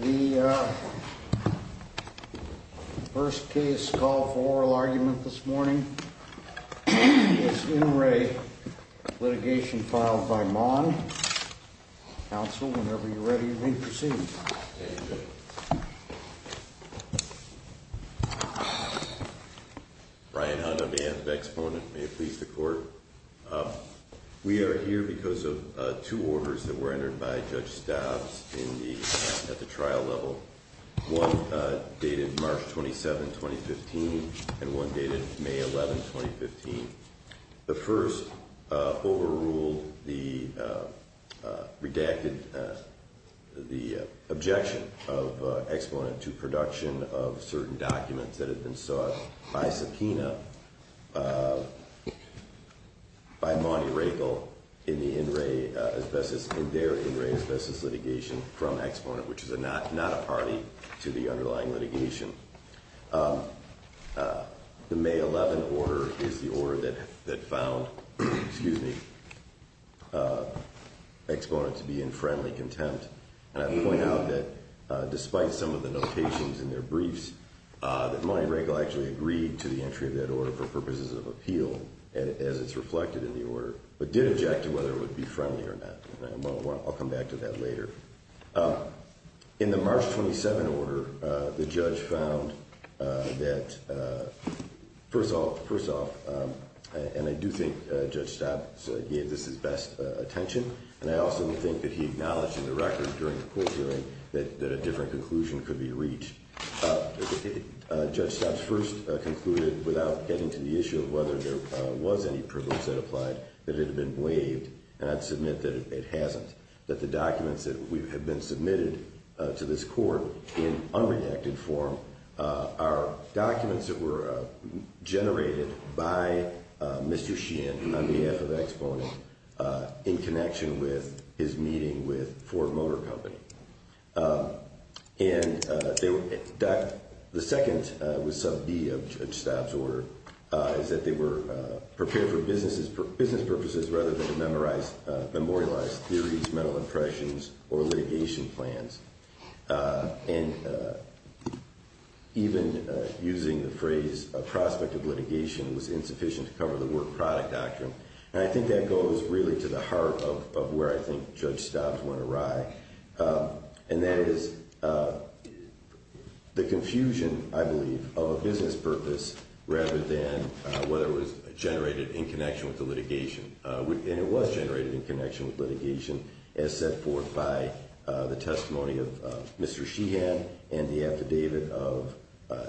The first case call for oral argument this morning is in re Litigation Filed by Maune. Counsel, whenever you're ready, you may proceed. Thank you. Brian Hunnam and Vex Bonin, may it please the court. We are here because of two orders that were entered by Judge Stobbs at the trial level. One dated March 27, 2015, and one dated May 11, 2015. The first overruled the redacted, the objection of exponent to production of certain documents that had been sought by subpoena by Maune Rakel in their in re asbestos litigation from exponent, which is not a party to the underlying litigation. The May 11 order is the order that found, excuse me, exponent to be in friendly contempt. And I point out that despite some of the notations in their briefs, that Maune Rakel actually agreed to the entry of that order for purposes of appeal, as it's reflected in the order, but did object to whether it would be friendly or not. I'll come back to that later. In the March 27 order, the judge found that, first off, and I do think Judge Stobbs gave this his best attention, and I also think that he acknowledged in the record during the court hearing that a different conclusion could be reached. Judge Stobbs first concluded, without getting to the issue of whether there was any privilege that applied, that it had been waived, and I'd submit that it hasn't. That the documents that have been submitted to this court in unredacted form are documents that were generated by Mr. Sheehan on behalf of exponent in connection with his meeting with Ford Motor Company. And the second was sub B of Judge Stobbs' order, is that they were prepared for business purposes rather than to memorialize theories, mental impressions, or litigation plans. And even using the phrase prospect of litigation was insufficient to cover the word product doctrine. And I think that goes really to the heart of where I think Judge Stobbs went awry. And that is the confusion, I believe, of a business purpose rather than whether it was generated in connection with the litigation. And it was generated in connection with litigation as set forth by the testimony of Mr. Sheehan and the affidavit of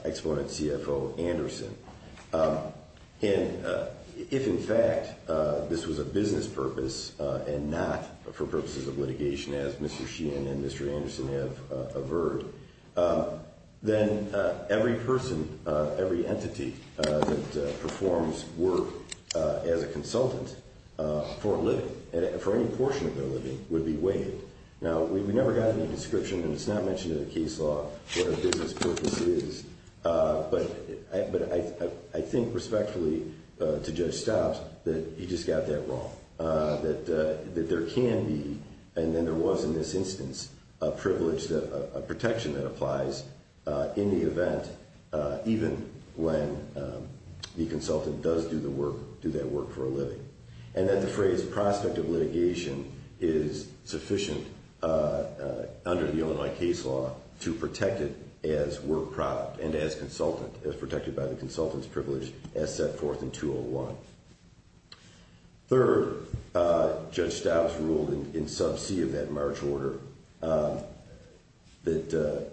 exponent CFO Anderson. And if, in fact, this was a business purpose and not for purposes of litigation as Mr. Sheehan and Mr. Anderson have averred, then every person, every entity that performs work as a consultant for a living, for any portion of their living, would be waived. Now, we never got any description, and it's not mentioned in the case law what a business purpose is. But I think respectfully to Judge Stobbs that he just got that wrong, that there can be, and then there was in this instance, a protection that applies in the event, even when the consultant does do that work for a living. And that the phrase prospect of litigation is sufficient under the Illinois case law to protect it as work product and as consultant, as protected by the consultant's privilege as set forth in 201. Third, Judge Stobbs ruled in sub C of that March order that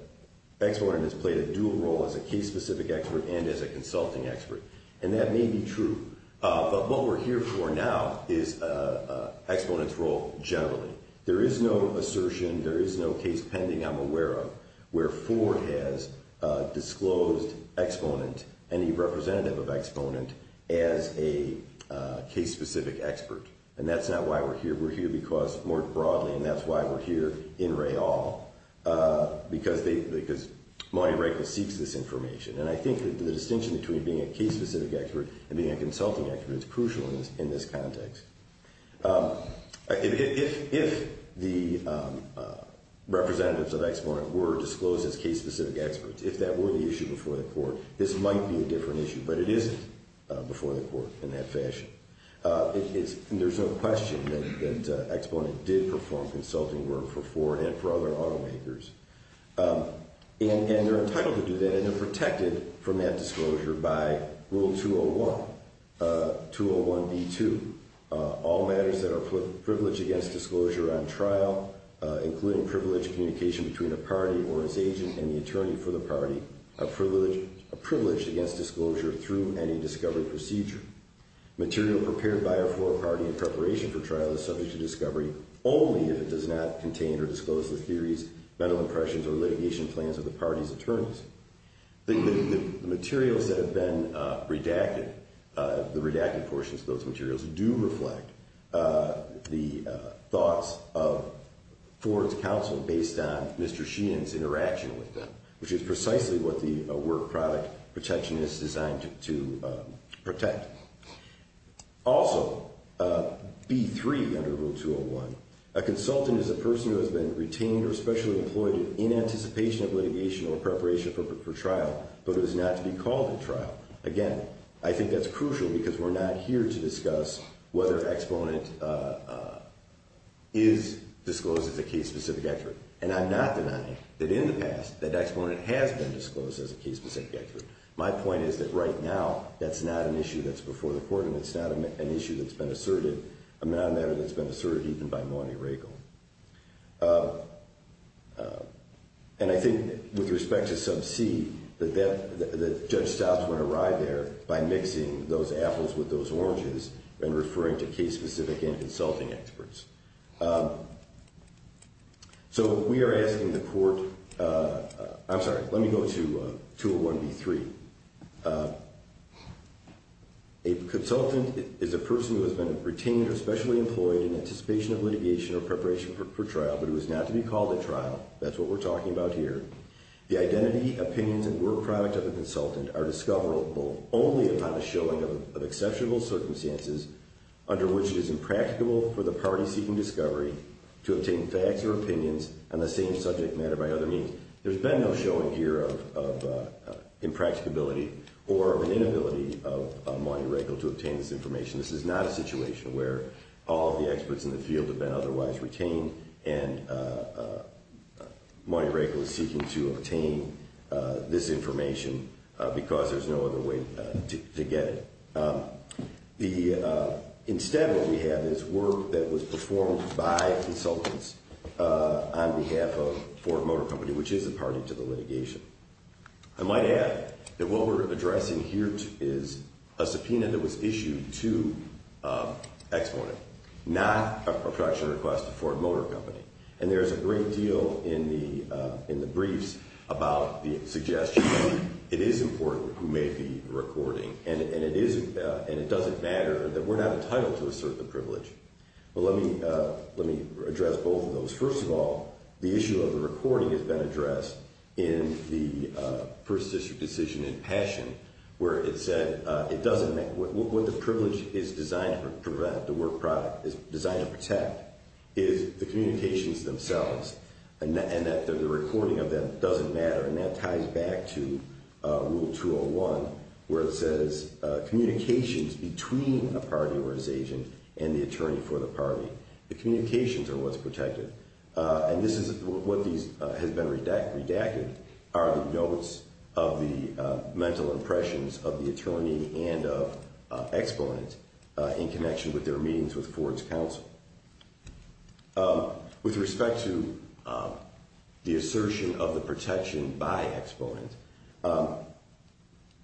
exponent has played a dual role as a case-specific expert and as a consulting expert. And that may be true. But what we're here for now is exponent's role generally. There is no assertion, there is no case pending I'm aware of where Ford has disclosed exponent, any representative of exponent, as a case-specific expert. And that's not why we're here. We're here because, more broadly, and that's why we're here in Rayall, because they, because Monte Rico seeks this information. And I think the distinction between being a case-specific expert and being a consulting expert is crucial in this context. If the representatives of exponent were disclosed as case-specific experts, if that were the issue before the court, this might be a different issue. But it isn't before the court in that fashion. There's no question that exponent did perform consulting work for Ford and for other automakers. And they're entitled to do that, and they're protected from that disclosure by Rule 201, 201B2. All matters that are privileged against disclosure on trial, including privileged communication between a party or its agent and the attorney for the party, are privileged against disclosure through any discovery procedure. Material prepared by or for a party in preparation for trial is subject to discovery only if it does not contain or disclose the theories, mental impressions, or litigation plans of the party's attorneys. The materials that have been redacted, the redacted portions of those materials do reflect the thoughts of Ford's counsel based on Mr. Sheehan's interaction with them, which is precisely what the work product protection is designed to protect. Also, B3 under Rule 201, a consultant is a person who has been retained or specially employed in anticipation of litigation or preparation for trial, but is not to be called at trial. Again, I think that's crucial because we're not here to discuss whether exponent is disclosed as a case-specific expert. And I'm not denying that in the past, that exponent has been disclosed as a case-specific expert. My point is that right now, that's not an issue that's before the court, and it's not an issue that's been asserted. I mean, not a matter that's been asserted even by Monty Riegel. And I think with respect to sub C, the judge stops when I arrive there by mixing those apples with those oranges and referring to case-specific and consulting experts. So we are asking the court – I'm sorry, let me go to 201B3. A consultant is a person who has been retained or specially employed in anticipation of litigation or preparation for trial, but who is not to be called at trial. That's what we're talking about here. The identity, opinions, and word product of the consultant are discoverable only upon the showing of exceptional circumstances, under which it is impracticable for the party seeking discovery to obtain facts or opinions on the same subject matter by other means. There's been no showing here of impracticability or of an inability of Monty Riegel to obtain this information. This is not a situation where all of the experts in the field have been otherwise retained, and Monty Riegel is seeking to obtain this information because there's no other way to get it. Instead, what we have is work that was performed by consultants on behalf of Ford Motor Company, which is a party to the litigation. I might add that what we're addressing here is a subpoena that was issued to Exmorten, not a production request to Ford Motor Company. And there's a great deal in the briefs about the suggestion that it is important who may be recording, and it doesn't matter that we're not entitled to assert the privilege. First of all, the issue of the recording has been addressed in the first district decision in Passion, where it said it doesn't matter what the privilege is designed to prevent, the work product is designed to protect, is the communications themselves, and that the recording of them doesn't matter. And that ties back to Rule 201, where it says communications between a party or its agent and the attorney for the party. The communications are what's protected, and what has been redacted are the notes of the mental impressions of the attorney and of Exmorten in connection with their meetings with Ford's counsel. With respect to the assertion of the protection by Exmorten,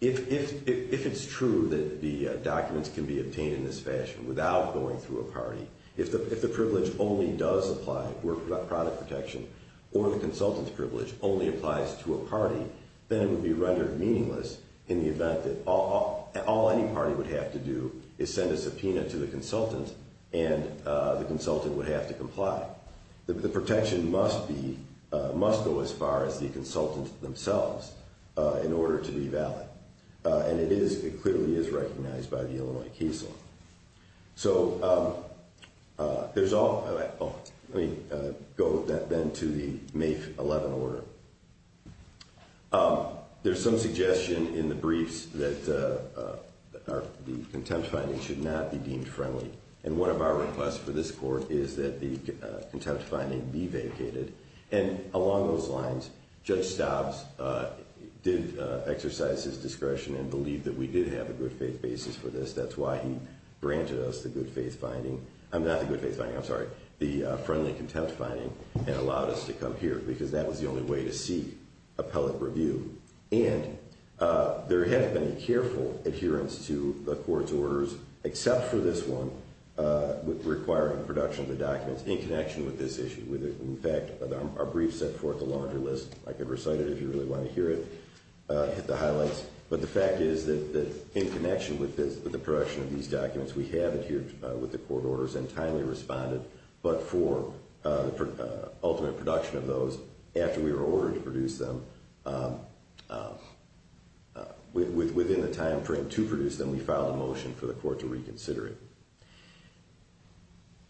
if it's true that the documents can be obtained in this fashion without going through a party, if the privilege only does apply, work product protection, or the consultant's privilege only applies to a party, then it would be rendered meaningless in the event that all any party would have to do is send a subpoena to the consultant, and the consultant would have to comply. The protection must go as far as the consultant themselves in order to be valid. And it clearly is recognized by the Illinois case law. So there's all that. Let me go then to the May 11 order. There's some suggestion in the briefs that the contempt finding should not be deemed friendly, and one of our requests for this court is that the contempt finding be vacated. And along those lines, Judge Stobbs did exercise his discretion and believed that we did have a good-faith basis for this. That's why he granted us the good-faith finding. Not the good-faith finding, I'm sorry, the friendly contempt finding, and allowed us to come here because that was the only way to seek appellate review. And there has been a careful adherence to the court's orders, except for this one, requiring production of the documents in connection with this issue. In fact, our briefs set forth a larger list. I could recite it if you really want to hear it, hit the highlights. But the fact is that in connection with the production of these documents, we have adhered with the court orders and timely responded. But for ultimate production of those, after we were ordered to produce them, within the time frame to produce them, we filed a motion for the court to reconsider it.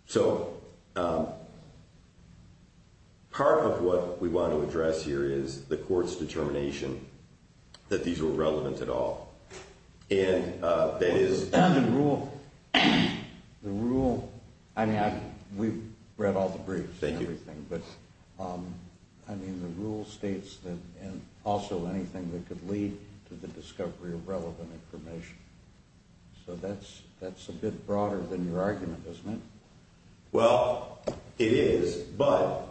So part of what we want to address here is the court's determination that these were relevant at all. And that is... The rule, I mean, we've read all the briefs and everything, but the rule states that also anything that could lead to the discovery of relevant information. So that's a bit broader than your argument, isn't it? Well, it is, but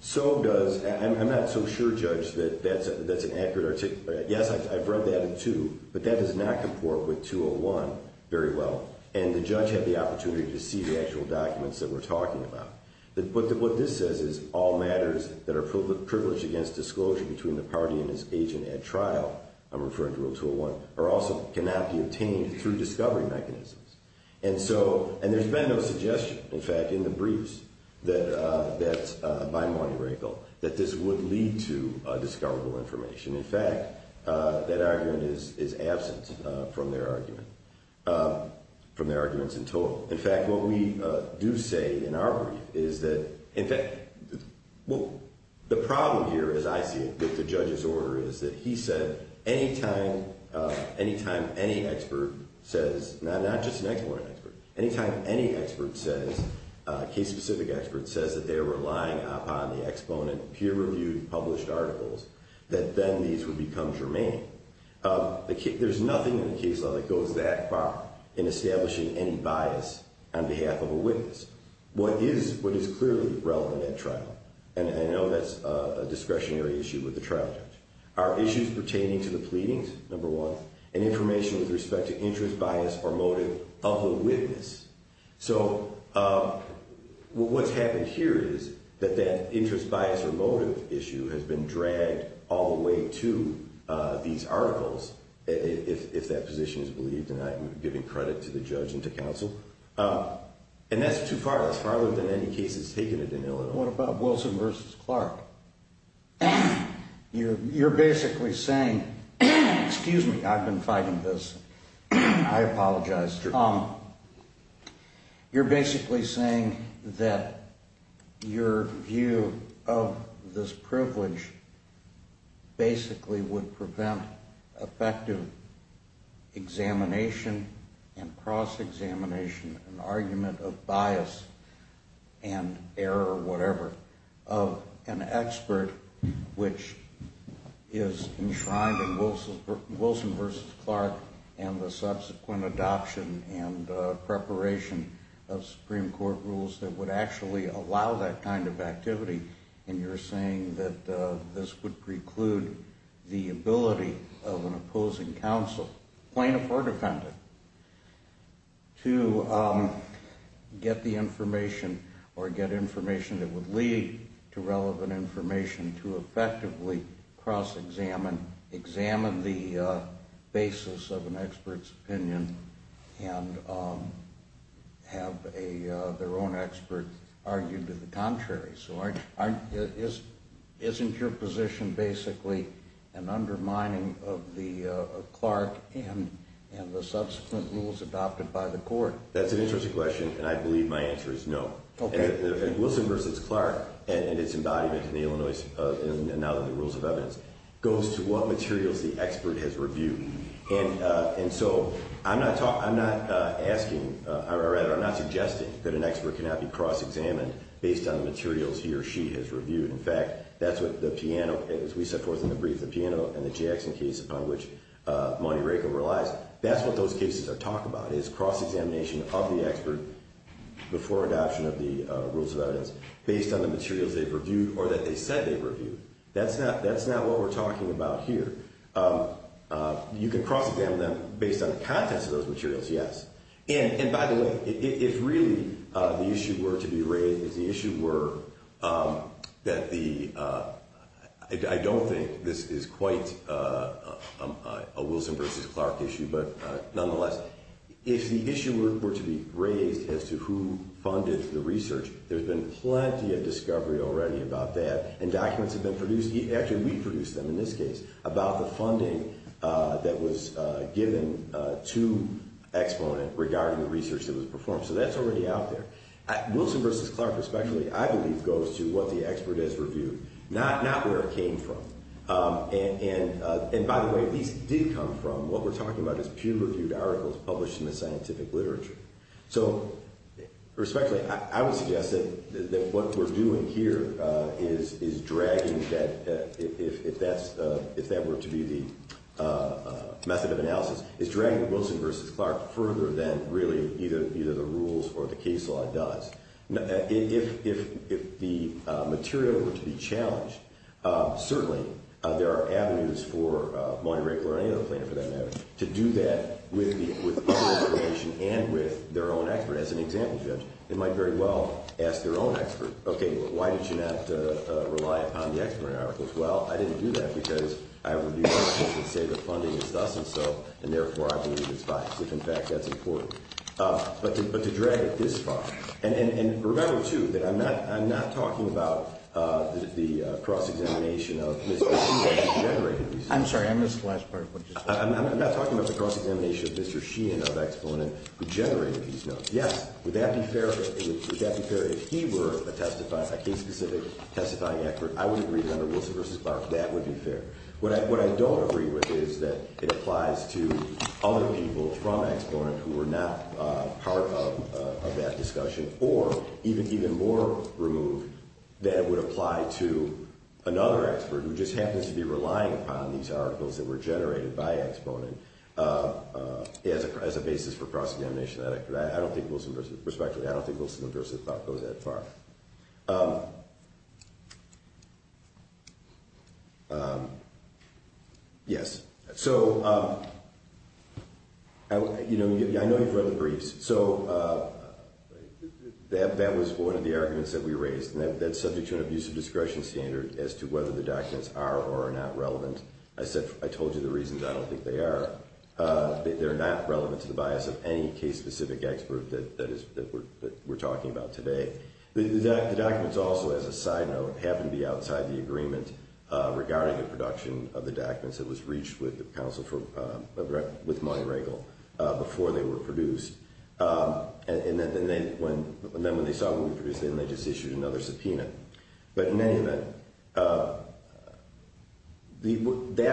so does... I'm not so sure, Judge, that that's an accurate articulation. Yes, I've read that in two, but that does not comport with 201 very well. And the judge had the opportunity to see the actual documents that we're talking about. But what this says is all matters that are privileged against disclosure between the party and its agent at trial, I'm referring to 201, are also cannot be obtained through discovery mechanisms. And so, and there's been no suggestion, in fact, in the briefs by Monty Rakel, that this would lead to discoverable information. In fact, that argument is absent from their argument, from their arguments in total. In fact, what we do say in our brief is that, in fact, well, the problem here, as I see it, with the judge's order is that he said anytime any expert says, not just an exponent expert, anytime any expert says, case-specific expert says, that they're relying upon the exponent peer-reviewed published articles, that then these would become germane. There's nothing in the case law that goes that far in establishing any bias on behalf of a witness. What is clearly relevant at trial, and I know that's a discretionary issue with the trial judge, are issues pertaining to the pleadings, number one, and information with respect to interest, bias, or motive of the witness. So what's happened here is that that interest, bias, or motive issue has been dragged all the way to these articles, if that position is believed. And I'm giving credit to the judge and to counsel. And that's too far. That's farther than any case has taken it in Illinois. What about Wilson v. Clark? You're basically saying, excuse me, I've been fighting this. I apologize. You're basically saying that your view of this privilege basically would prevent effective examination and cross-examination and argument of bias and error, whatever, of an expert which is enshrined in Wilson v. Clark and the subsequent adoption and preparation of Supreme Court rules that would actually allow that kind of activity. And you're saying that this would preclude the ability of an opposing counsel, plaintiff or defendant, to get the information or get information that would lead to relevant information and to effectively cross-examine, examine the basis of an expert's opinion and have their own expert argue to the contrary. So isn't your position basically an undermining of Clark and the subsequent rules adopted by the court? That's an interesting question, and I believe my answer is no. Wilson v. Clark and its embodiment in the Illinois rules of evidence goes to what materials the expert has reviewed. And so I'm not suggesting that an expert cannot be cross-examined based on the materials he or she has reviewed. In fact, that's what the Piano, as we set forth in the brief, the Piano and the Jackson case upon which Monty Rakel relies, that's what those cases talk about is cross-examination of the expert before adoption of the rules of evidence based on the materials they've reviewed or that they said they've reviewed. That's not what we're talking about here. You can cross-examine them based on the contents of those materials, yes. And, by the way, if really the issue were to be raised, if the issue were that the— I don't think this is quite a Wilson v. Clark issue, but nonetheless. If the issue were to be raised as to who funded the research, there's been plenty of discovery already about that, and documents have been produced, actually we produced them in this case, about the funding that was given to Exponent regarding the research that was performed. So that's already out there. Wilson v. Clark, especially, I believe, goes to what the expert has reviewed, not where it came from. And, by the way, these did come from what we're talking about as peer-reviewed articles published in the scientific literature. So, respectfully, I would suggest that what we're doing here is dragging that, if that were to be the method of analysis, is dragging Wilson v. Clark further than really either the rules or the case law does. If the material were to be challenged, certainly there are avenues for Moyni Rakel or any other plaintiff, for that matter, to do that with their own information and with their own expert. As an example, Judge, they might very well ask their own expert, okay, why did you not rely upon the Exponent articles? Well, I didn't do that because I reviewed articles that say the funding is thus and so, and therefore I believe it's biased, if in fact that's important. But to drag it this far, and remember, too, that I'm not talking about the cross-examination of Mr. Sheehan who generated these notes. I'm sorry, I missed the last part of what you said. I'm not talking about the cross-examination of Mr. Sheehan of Exponent who generated these notes. Yes, would that be fair if he were a case-specific testifying expert? I would agree that under Wilson v. Clark that would be fair. What I don't agree with is that it applies to other people from Exponent who were not part of that discussion or even more removed that it would apply to another expert who just happens to be relying upon these articles that were generated by Exponent as a basis for cross-examination. Respectfully, I don't think Wilson v. Clark goes that far. Yes. I know you've read the briefs. That was one of the arguments that we raised, and that's subject to an abuse of discretion standard as to whether the documents are or are not relevant. I told you the reasons. I don't think they are. They're not relevant to the bias of any case-specific expert that we're talking about today. The documents also, as a side note, happen to be outside the agreement regarding the production of the documents that was reached with the counsel for money wrinkle before they were produced. And then when they saw what we produced, then they just issued another subpoena. But in any event, that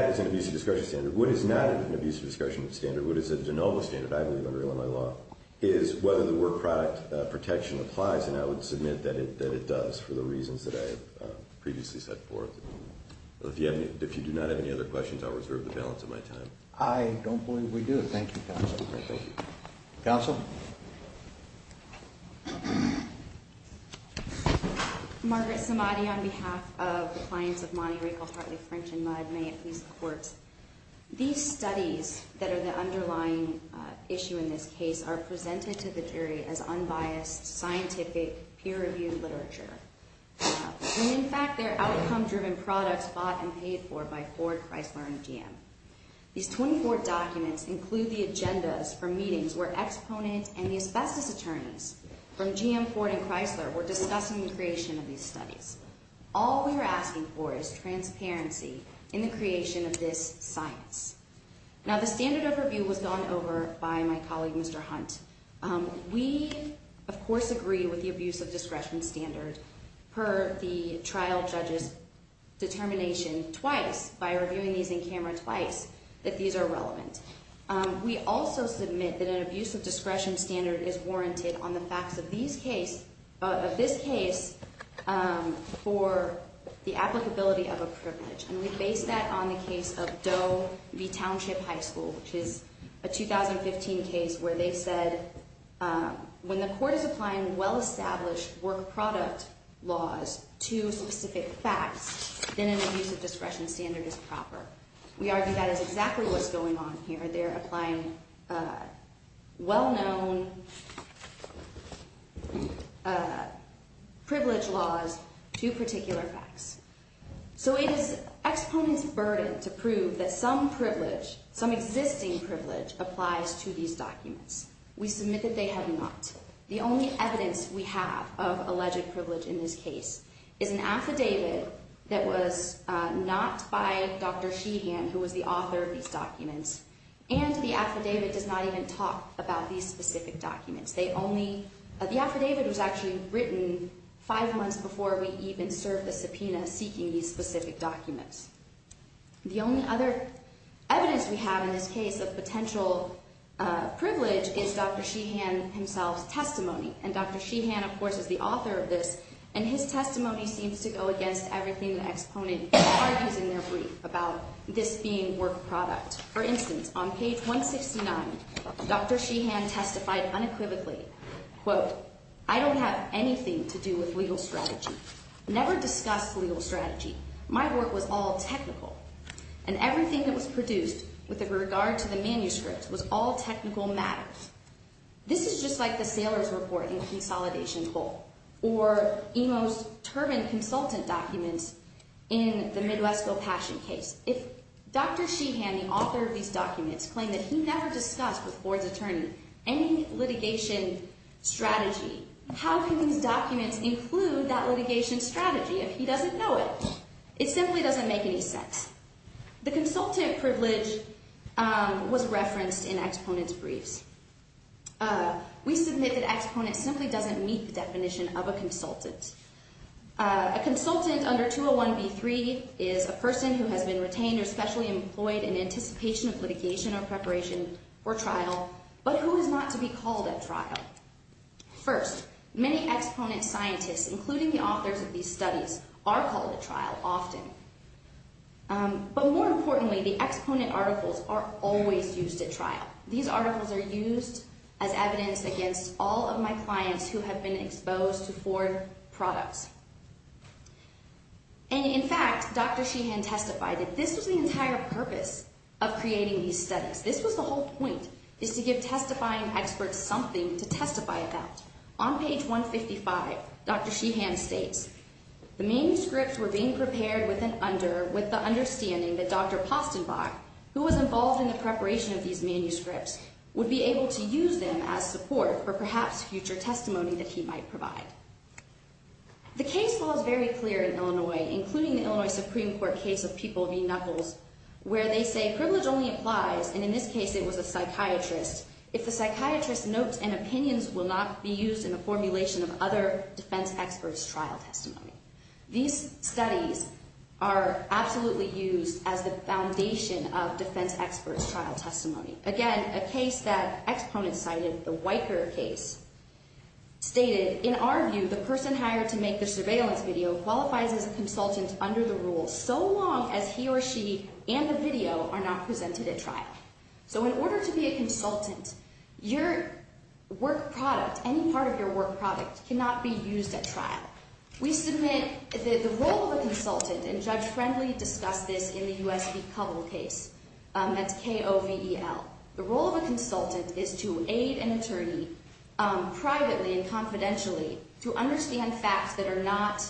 is an abuse of discretion standard. What is not an abuse of discretion standard, what is a de novo standard, I believe, under Illinois law, is whether the word product protection applies, and I would submit that it does for the reasons that I have previously set forth. If you do not have any other questions, I'll reserve the balance of my time. I don't believe we do. Thank you, counsel. Thank you. Counsel? Margaret Samadi on behalf of the clients of Money Wrinkle, Hartley, French, and Mudd. May it please the courts. These studies that are the underlying issue in this case are presented to the jury as unbiased, scientific, peer-reviewed literature. And in fact, they're outcome-driven products bought and paid for by Ford, Chrysler, and GM. These 24 documents include the agendas for meetings where Exponent and the asbestos attorneys from GM, Ford, and Chrysler were discussing the creation of these studies. All we are asking for is transparency in the creation of this science. Now, the standard of review was gone over by my colleague, Mr. Hunt. We, of course, agree with the abuse of discretion standard per the trial judge's determination twice, by reviewing these in camera twice, that these are relevant. We also submit that an abuse of discretion standard is warranted on the facts of this case for the applicability of a privilege. And we base that on the case of Doe v. Township High School, which is a 2015 case where they said, when the court is applying well-established work product laws to specific facts, then an abuse of discretion standard is proper. We argue that is exactly what's going on here. They're applying well-known privilege laws to particular facts. So it is Exponent's burden to prove that some privilege, some existing privilege, applies to these documents. We submit that they have not. The only evidence we have of alleged privilege in this case is an affidavit that was not by Dr. Sheehan, who was the author of these documents, and the affidavit does not even talk about these specific documents. The affidavit was actually written five months before we even served the subpoena seeking these specific documents. The only other evidence we have in this case of potential privilege is Dr. Sheehan himself's testimony. And Dr. Sheehan, of course, is the author of this, and his testimony seems to go against everything the Exponent argues in their brief about this being work product. For instance, on page 169, Dr. Sheehan testified unequivocally, quote, I don't have anything to do with legal strategy. Never discussed legal strategy. My work was all technical, and everything that was produced with regard to the manuscript was all technical matters. This is just like the Sailor's Report in Consolidation Coal, or Imo's Turban Consultant documents in the Midwesco Passion case. If Dr. Sheehan, the author of these documents, claimed that he never discussed with the board's attorney any litigation strategy, how can these documents include that litigation strategy if he doesn't know it? It simply doesn't make any sense. The consultant privilege was referenced in Exponent's briefs. We submit that Exponent simply doesn't meet the definition of a consultant. A consultant under 201B3 is a person who has been retained or specially employed in anticipation of litigation or preparation or trial, but who is not to be called at trial. First, many Exponent scientists, including the authors of these studies, are called at trial often. But more importantly, the Exponent articles are always used at trial. These articles are used as evidence against all of my clients who have been exposed to Ford products. And in fact, Dr. Sheehan testified that this was the entire purpose of creating these studies. This was the whole point, is to give testifying experts something to testify about. On page 155, Dr. Sheehan states, The manuscripts were being prepared with the understanding that Dr. Postenbach, who was involved in the preparation of these manuscripts, would be able to use them as support for perhaps future testimony that he might provide. The case falls very clear in Illinois, including the Illinois Supreme Court case of People v. Knuckles, where they say, Privilege only applies, and in this case it was a psychiatrist, if the psychiatrist's notes and opinions will not be used in the formulation of other defense experts' trial testimony. These studies are absolutely used as the foundation of defense experts' trial testimony. Again, a case that Exponent cited, the Weicker case, stated, In our view, the person hired to make the surveillance video qualifies as a consultant under the rule, so long as he or she and the video are not presented at trial. So in order to be a consultant, your work product, any part of your work product, cannot be used at trial. We submit the role of a consultant, and Judge Friendly discussed this in the U.S. v. Kovel case. That's K-O-V-E-L. The role of a consultant is to aid an attorney privately and confidentially to understand facts that are not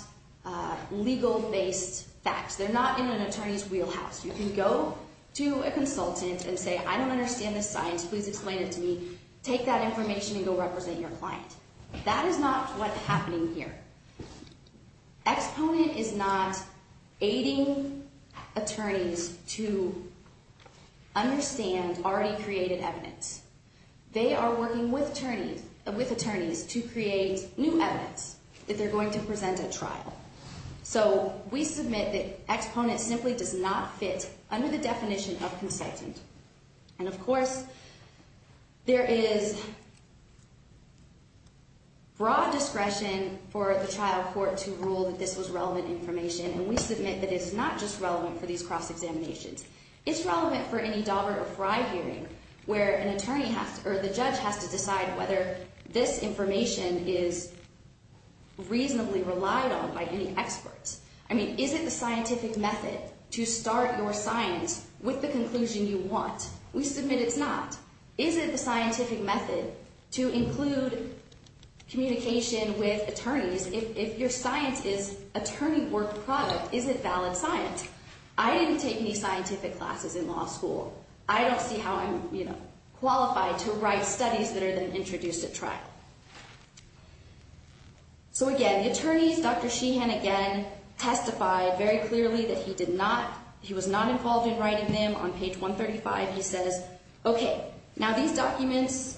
legal-based facts. They're not in an attorney's wheelhouse. You can go to a consultant and say, I don't understand this science. Please explain it to me. Take that information and go represent your client. That is not what's happening here. Exponent is not aiding attorneys to understand already created evidence. They are working with attorneys to create new evidence that they're going to present at trial. So we submit that Exponent simply does not fit under the definition of consultant. And of course, there is broad discretion for the trial court to rule that this was relevant information. And we submit that it's not just relevant for these cross-examinations. It's relevant for any Daubert or Fry hearing where an attorney has to, or the judge has to decide whether this information is reasonably relied on by any experts. I mean, is it the scientific method to start your science with the conclusion you want? We submit it's not. Is it the scientific method to include communication with attorneys if your science is attorney-worked product? Is it valid science? I didn't take any scientific classes in law school. I don't see how I'm qualified to write studies that are then introduced at trial. So again, the attorneys, Dr. Sheehan again, testified very clearly that he did not, he was not involved in writing them. On page 135, he says, okay, now these documents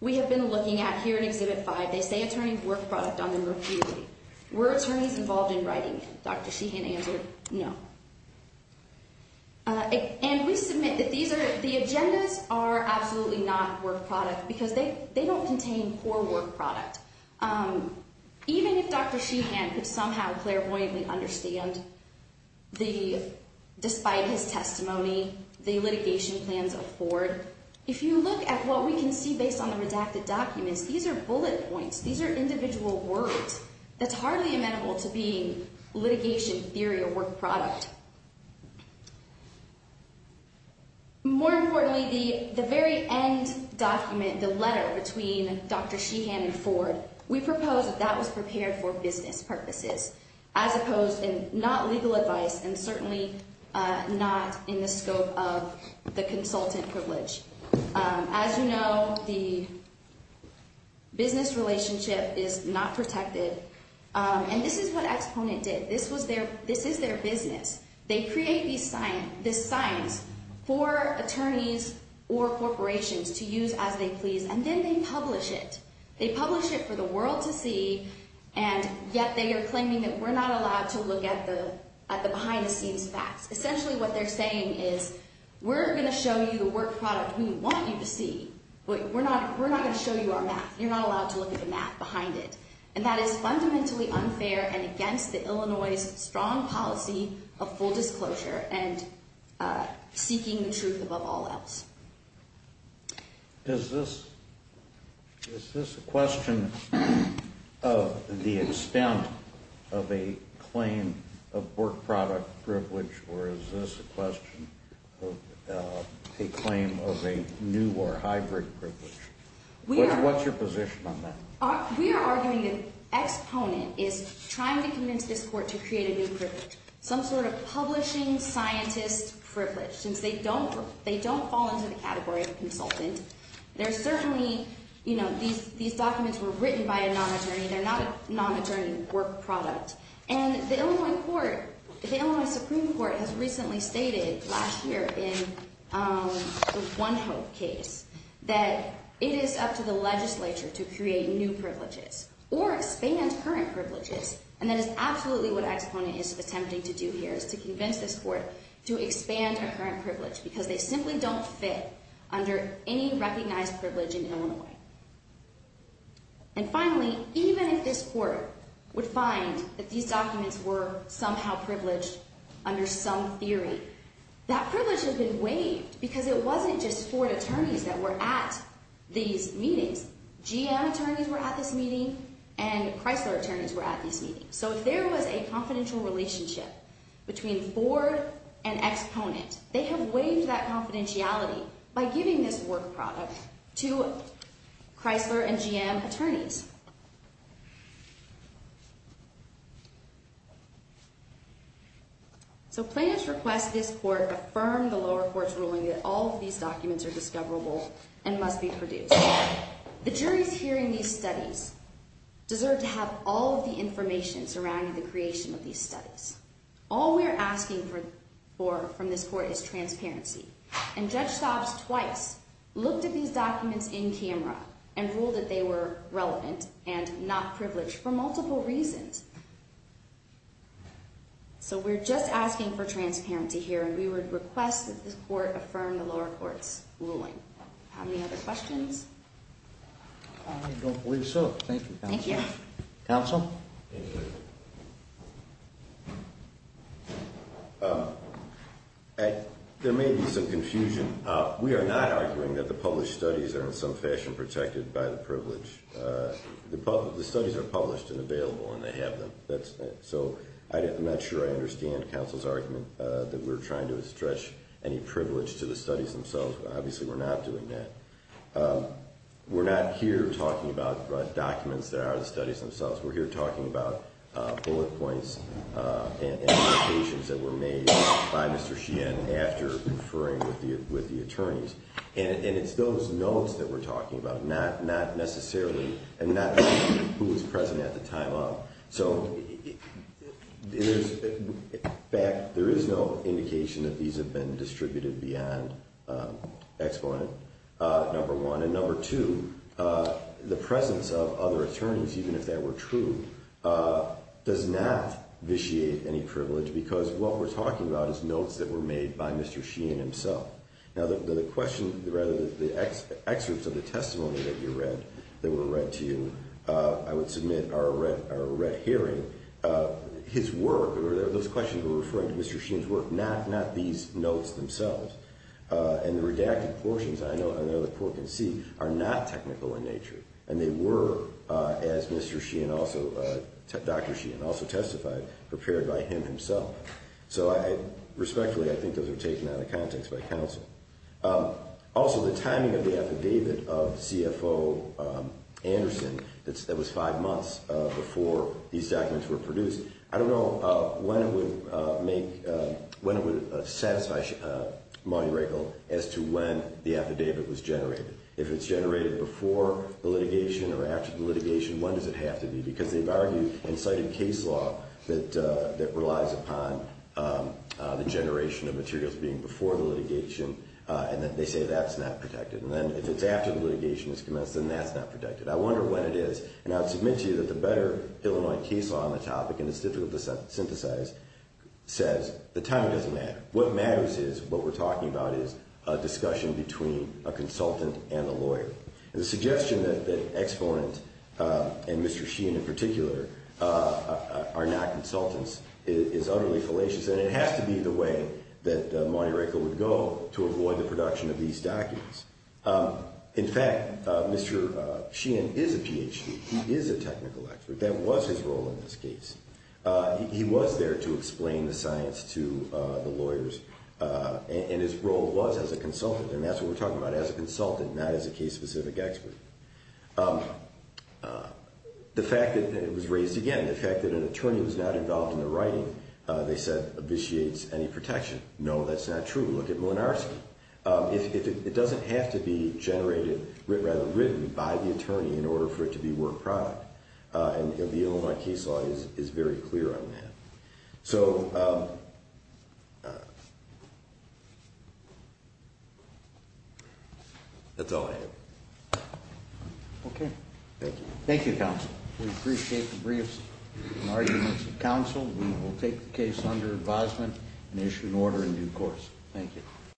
we have been looking at here in Exhibit 5. They say attorney-work product on them repeatedly. Were attorneys involved in writing them? Dr. Sheehan answered no. And we submit that these are, the agendas are absolutely not work product because they don't contain poor work product. Even if Dr. Sheehan could somehow clairvoyantly understand the, despite his testimony, the litigation plans of Ford. If you look at what we can see based on the redacted documents, these are bullet points. These are individual words that's hardly amenable to being litigation theory or work product. More importantly, the very end document, the letter between Dr. Sheehan and Ford, we propose that that was prepared for business purposes. As opposed, not legal advice and certainly not in the scope of the consultant privilege. As you know, the business relationship is not protected. And this is what Exponent did. This was their, this is their business. They create these signs for attorneys or corporations to use as they please and then they publish it. They publish it for the world to see and yet they are claiming that we're not allowed to look at the behind the scenes facts. Essentially what they're saying is we're going to show you the work product we want you to see, but we're not, we're not going to show you our math. You're not allowed to look at the math behind it. And that is fundamentally unfair and against the Illinois strong policy of full disclosure and seeking the truth above all else. Is this, is this a question of the extent of a claim of work product privilege or is this a question of a claim of a new or hybrid privilege? What's your position on that? We are arguing that Exponent is trying to convince this court to create a new privilege. Some sort of publishing scientist privilege since they don't, they don't fall into the category of consultant. There's certainly, you know, these, these documents were written by a non-attorney. They're not a non-attorney work product. And the Illinois court, the Illinois Supreme Court has recently stated last year in the One Hope case that it is up to the legislature to create new privileges or expand current privileges. And that is absolutely what Exponent is attempting to do here is to convince this court to expand our current privilege because they simply don't fit under any recognized privilege in Illinois. And finally, even if this court would find that these documents were somehow privileged under some theory, that privilege has been waived because it wasn't just Ford attorneys that were at these meetings. GM attorneys were at this meeting and Chrysler attorneys were at this meeting. So there was a confidential relationship between Ford and Exponent. They have waived that confidentiality by giving this work product to Chrysler and GM attorneys. So plaintiffs request this court affirm the lower court's ruling that all of these documents are discoverable and must be produced. The juries hearing these studies deserve to have all of the information surrounding the creation of these studies. All we're asking for from this court is transparency. And Judge Stobbs twice looked at these documents in camera and ruled that they were relevant and not privileged for multiple reasons. So we're just asking for transparency here and we would request that this court affirm the lower court's ruling. How many other questions? I don't believe so. Thank you. Thank you. Counsel? There may be some confusion. We are not arguing that the published studies are in some fashion protected by the privilege. The studies are published and available and they have them. So I'm not sure I understand counsel's argument that we're trying to stretch any privilege to the studies themselves. Obviously we're not doing that. We're not here talking about documents that are the studies themselves. We're here talking about bullet points and indications that were made by Mr. Sheehan after conferring with the attorneys. And it's those notes that we're talking about, not necessarily who was present at the time of. So in fact, there is no indication that these have been distributed beyond exponent, number one. And number two, the presence of other attorneys, even if they were true, does not vitiate any privilege because what we're talking about is notes that were made by Mr. Sheehan himself. Now the question, rather the excerpts of the testimony that you read, that were read to you, I would submit are a red herring. His work or those questions were referring to Mr. Sheehan's work, not these notes themselves. And the redacted portions, I know the court can see, are not technical in nature. And they were, as Dr. Sheehan also testified, prepared by him himself. So respectfully, I think those are taken out of context by counsel. Also, the timing of the affidavit of CFO Anderson that was five months before these documents were produced, I don't know when it would make, when it would satisfy Monty Rakel as to when the affidavit was generated. If it's generated before the litigation or after the litigation, when does it have to be? Because they've argued in cited case law that relies upon the generation of materials being before the litigation. And then they say that's not protected. And then if it's after the litigation has commenced, then that's not protected. I wonder when it is. And I would submit to you that the better Illinois case law on the topic, and it's difficult to synthesize, says the timing doesn't matter. What matters is what we're talking about is a discussion between a consultant and a lawyer. And the suggestion that Exponent and Mr. Sheehan in particular are not consultants is utterly fallacious. And it has to be the way that Monty Rakel would go to avoid the production of these documents. In fact, Mr. Sheehan is a Ph.D. He is a technical expert. That was his role in this case. He was there to explain the science to the lawyers, and his role was as a consultant. And that's what we're talking about, as a consultant, not as a case-specific expert. The fact that it was raised again, the fact that an attorney was not involved in the writing, they said, No, that's not true. Look at Molinarski. It doesn't have to be generated, rather written, by the attorney in order for it to be work product. And the Illinois case law is very clear on that. So that's all I have. Okay. Thank you. Thank you, counsel. We appreciate the briefs and arguments of counsel. We will take the case under advisement and issue an order in due course. Thank you.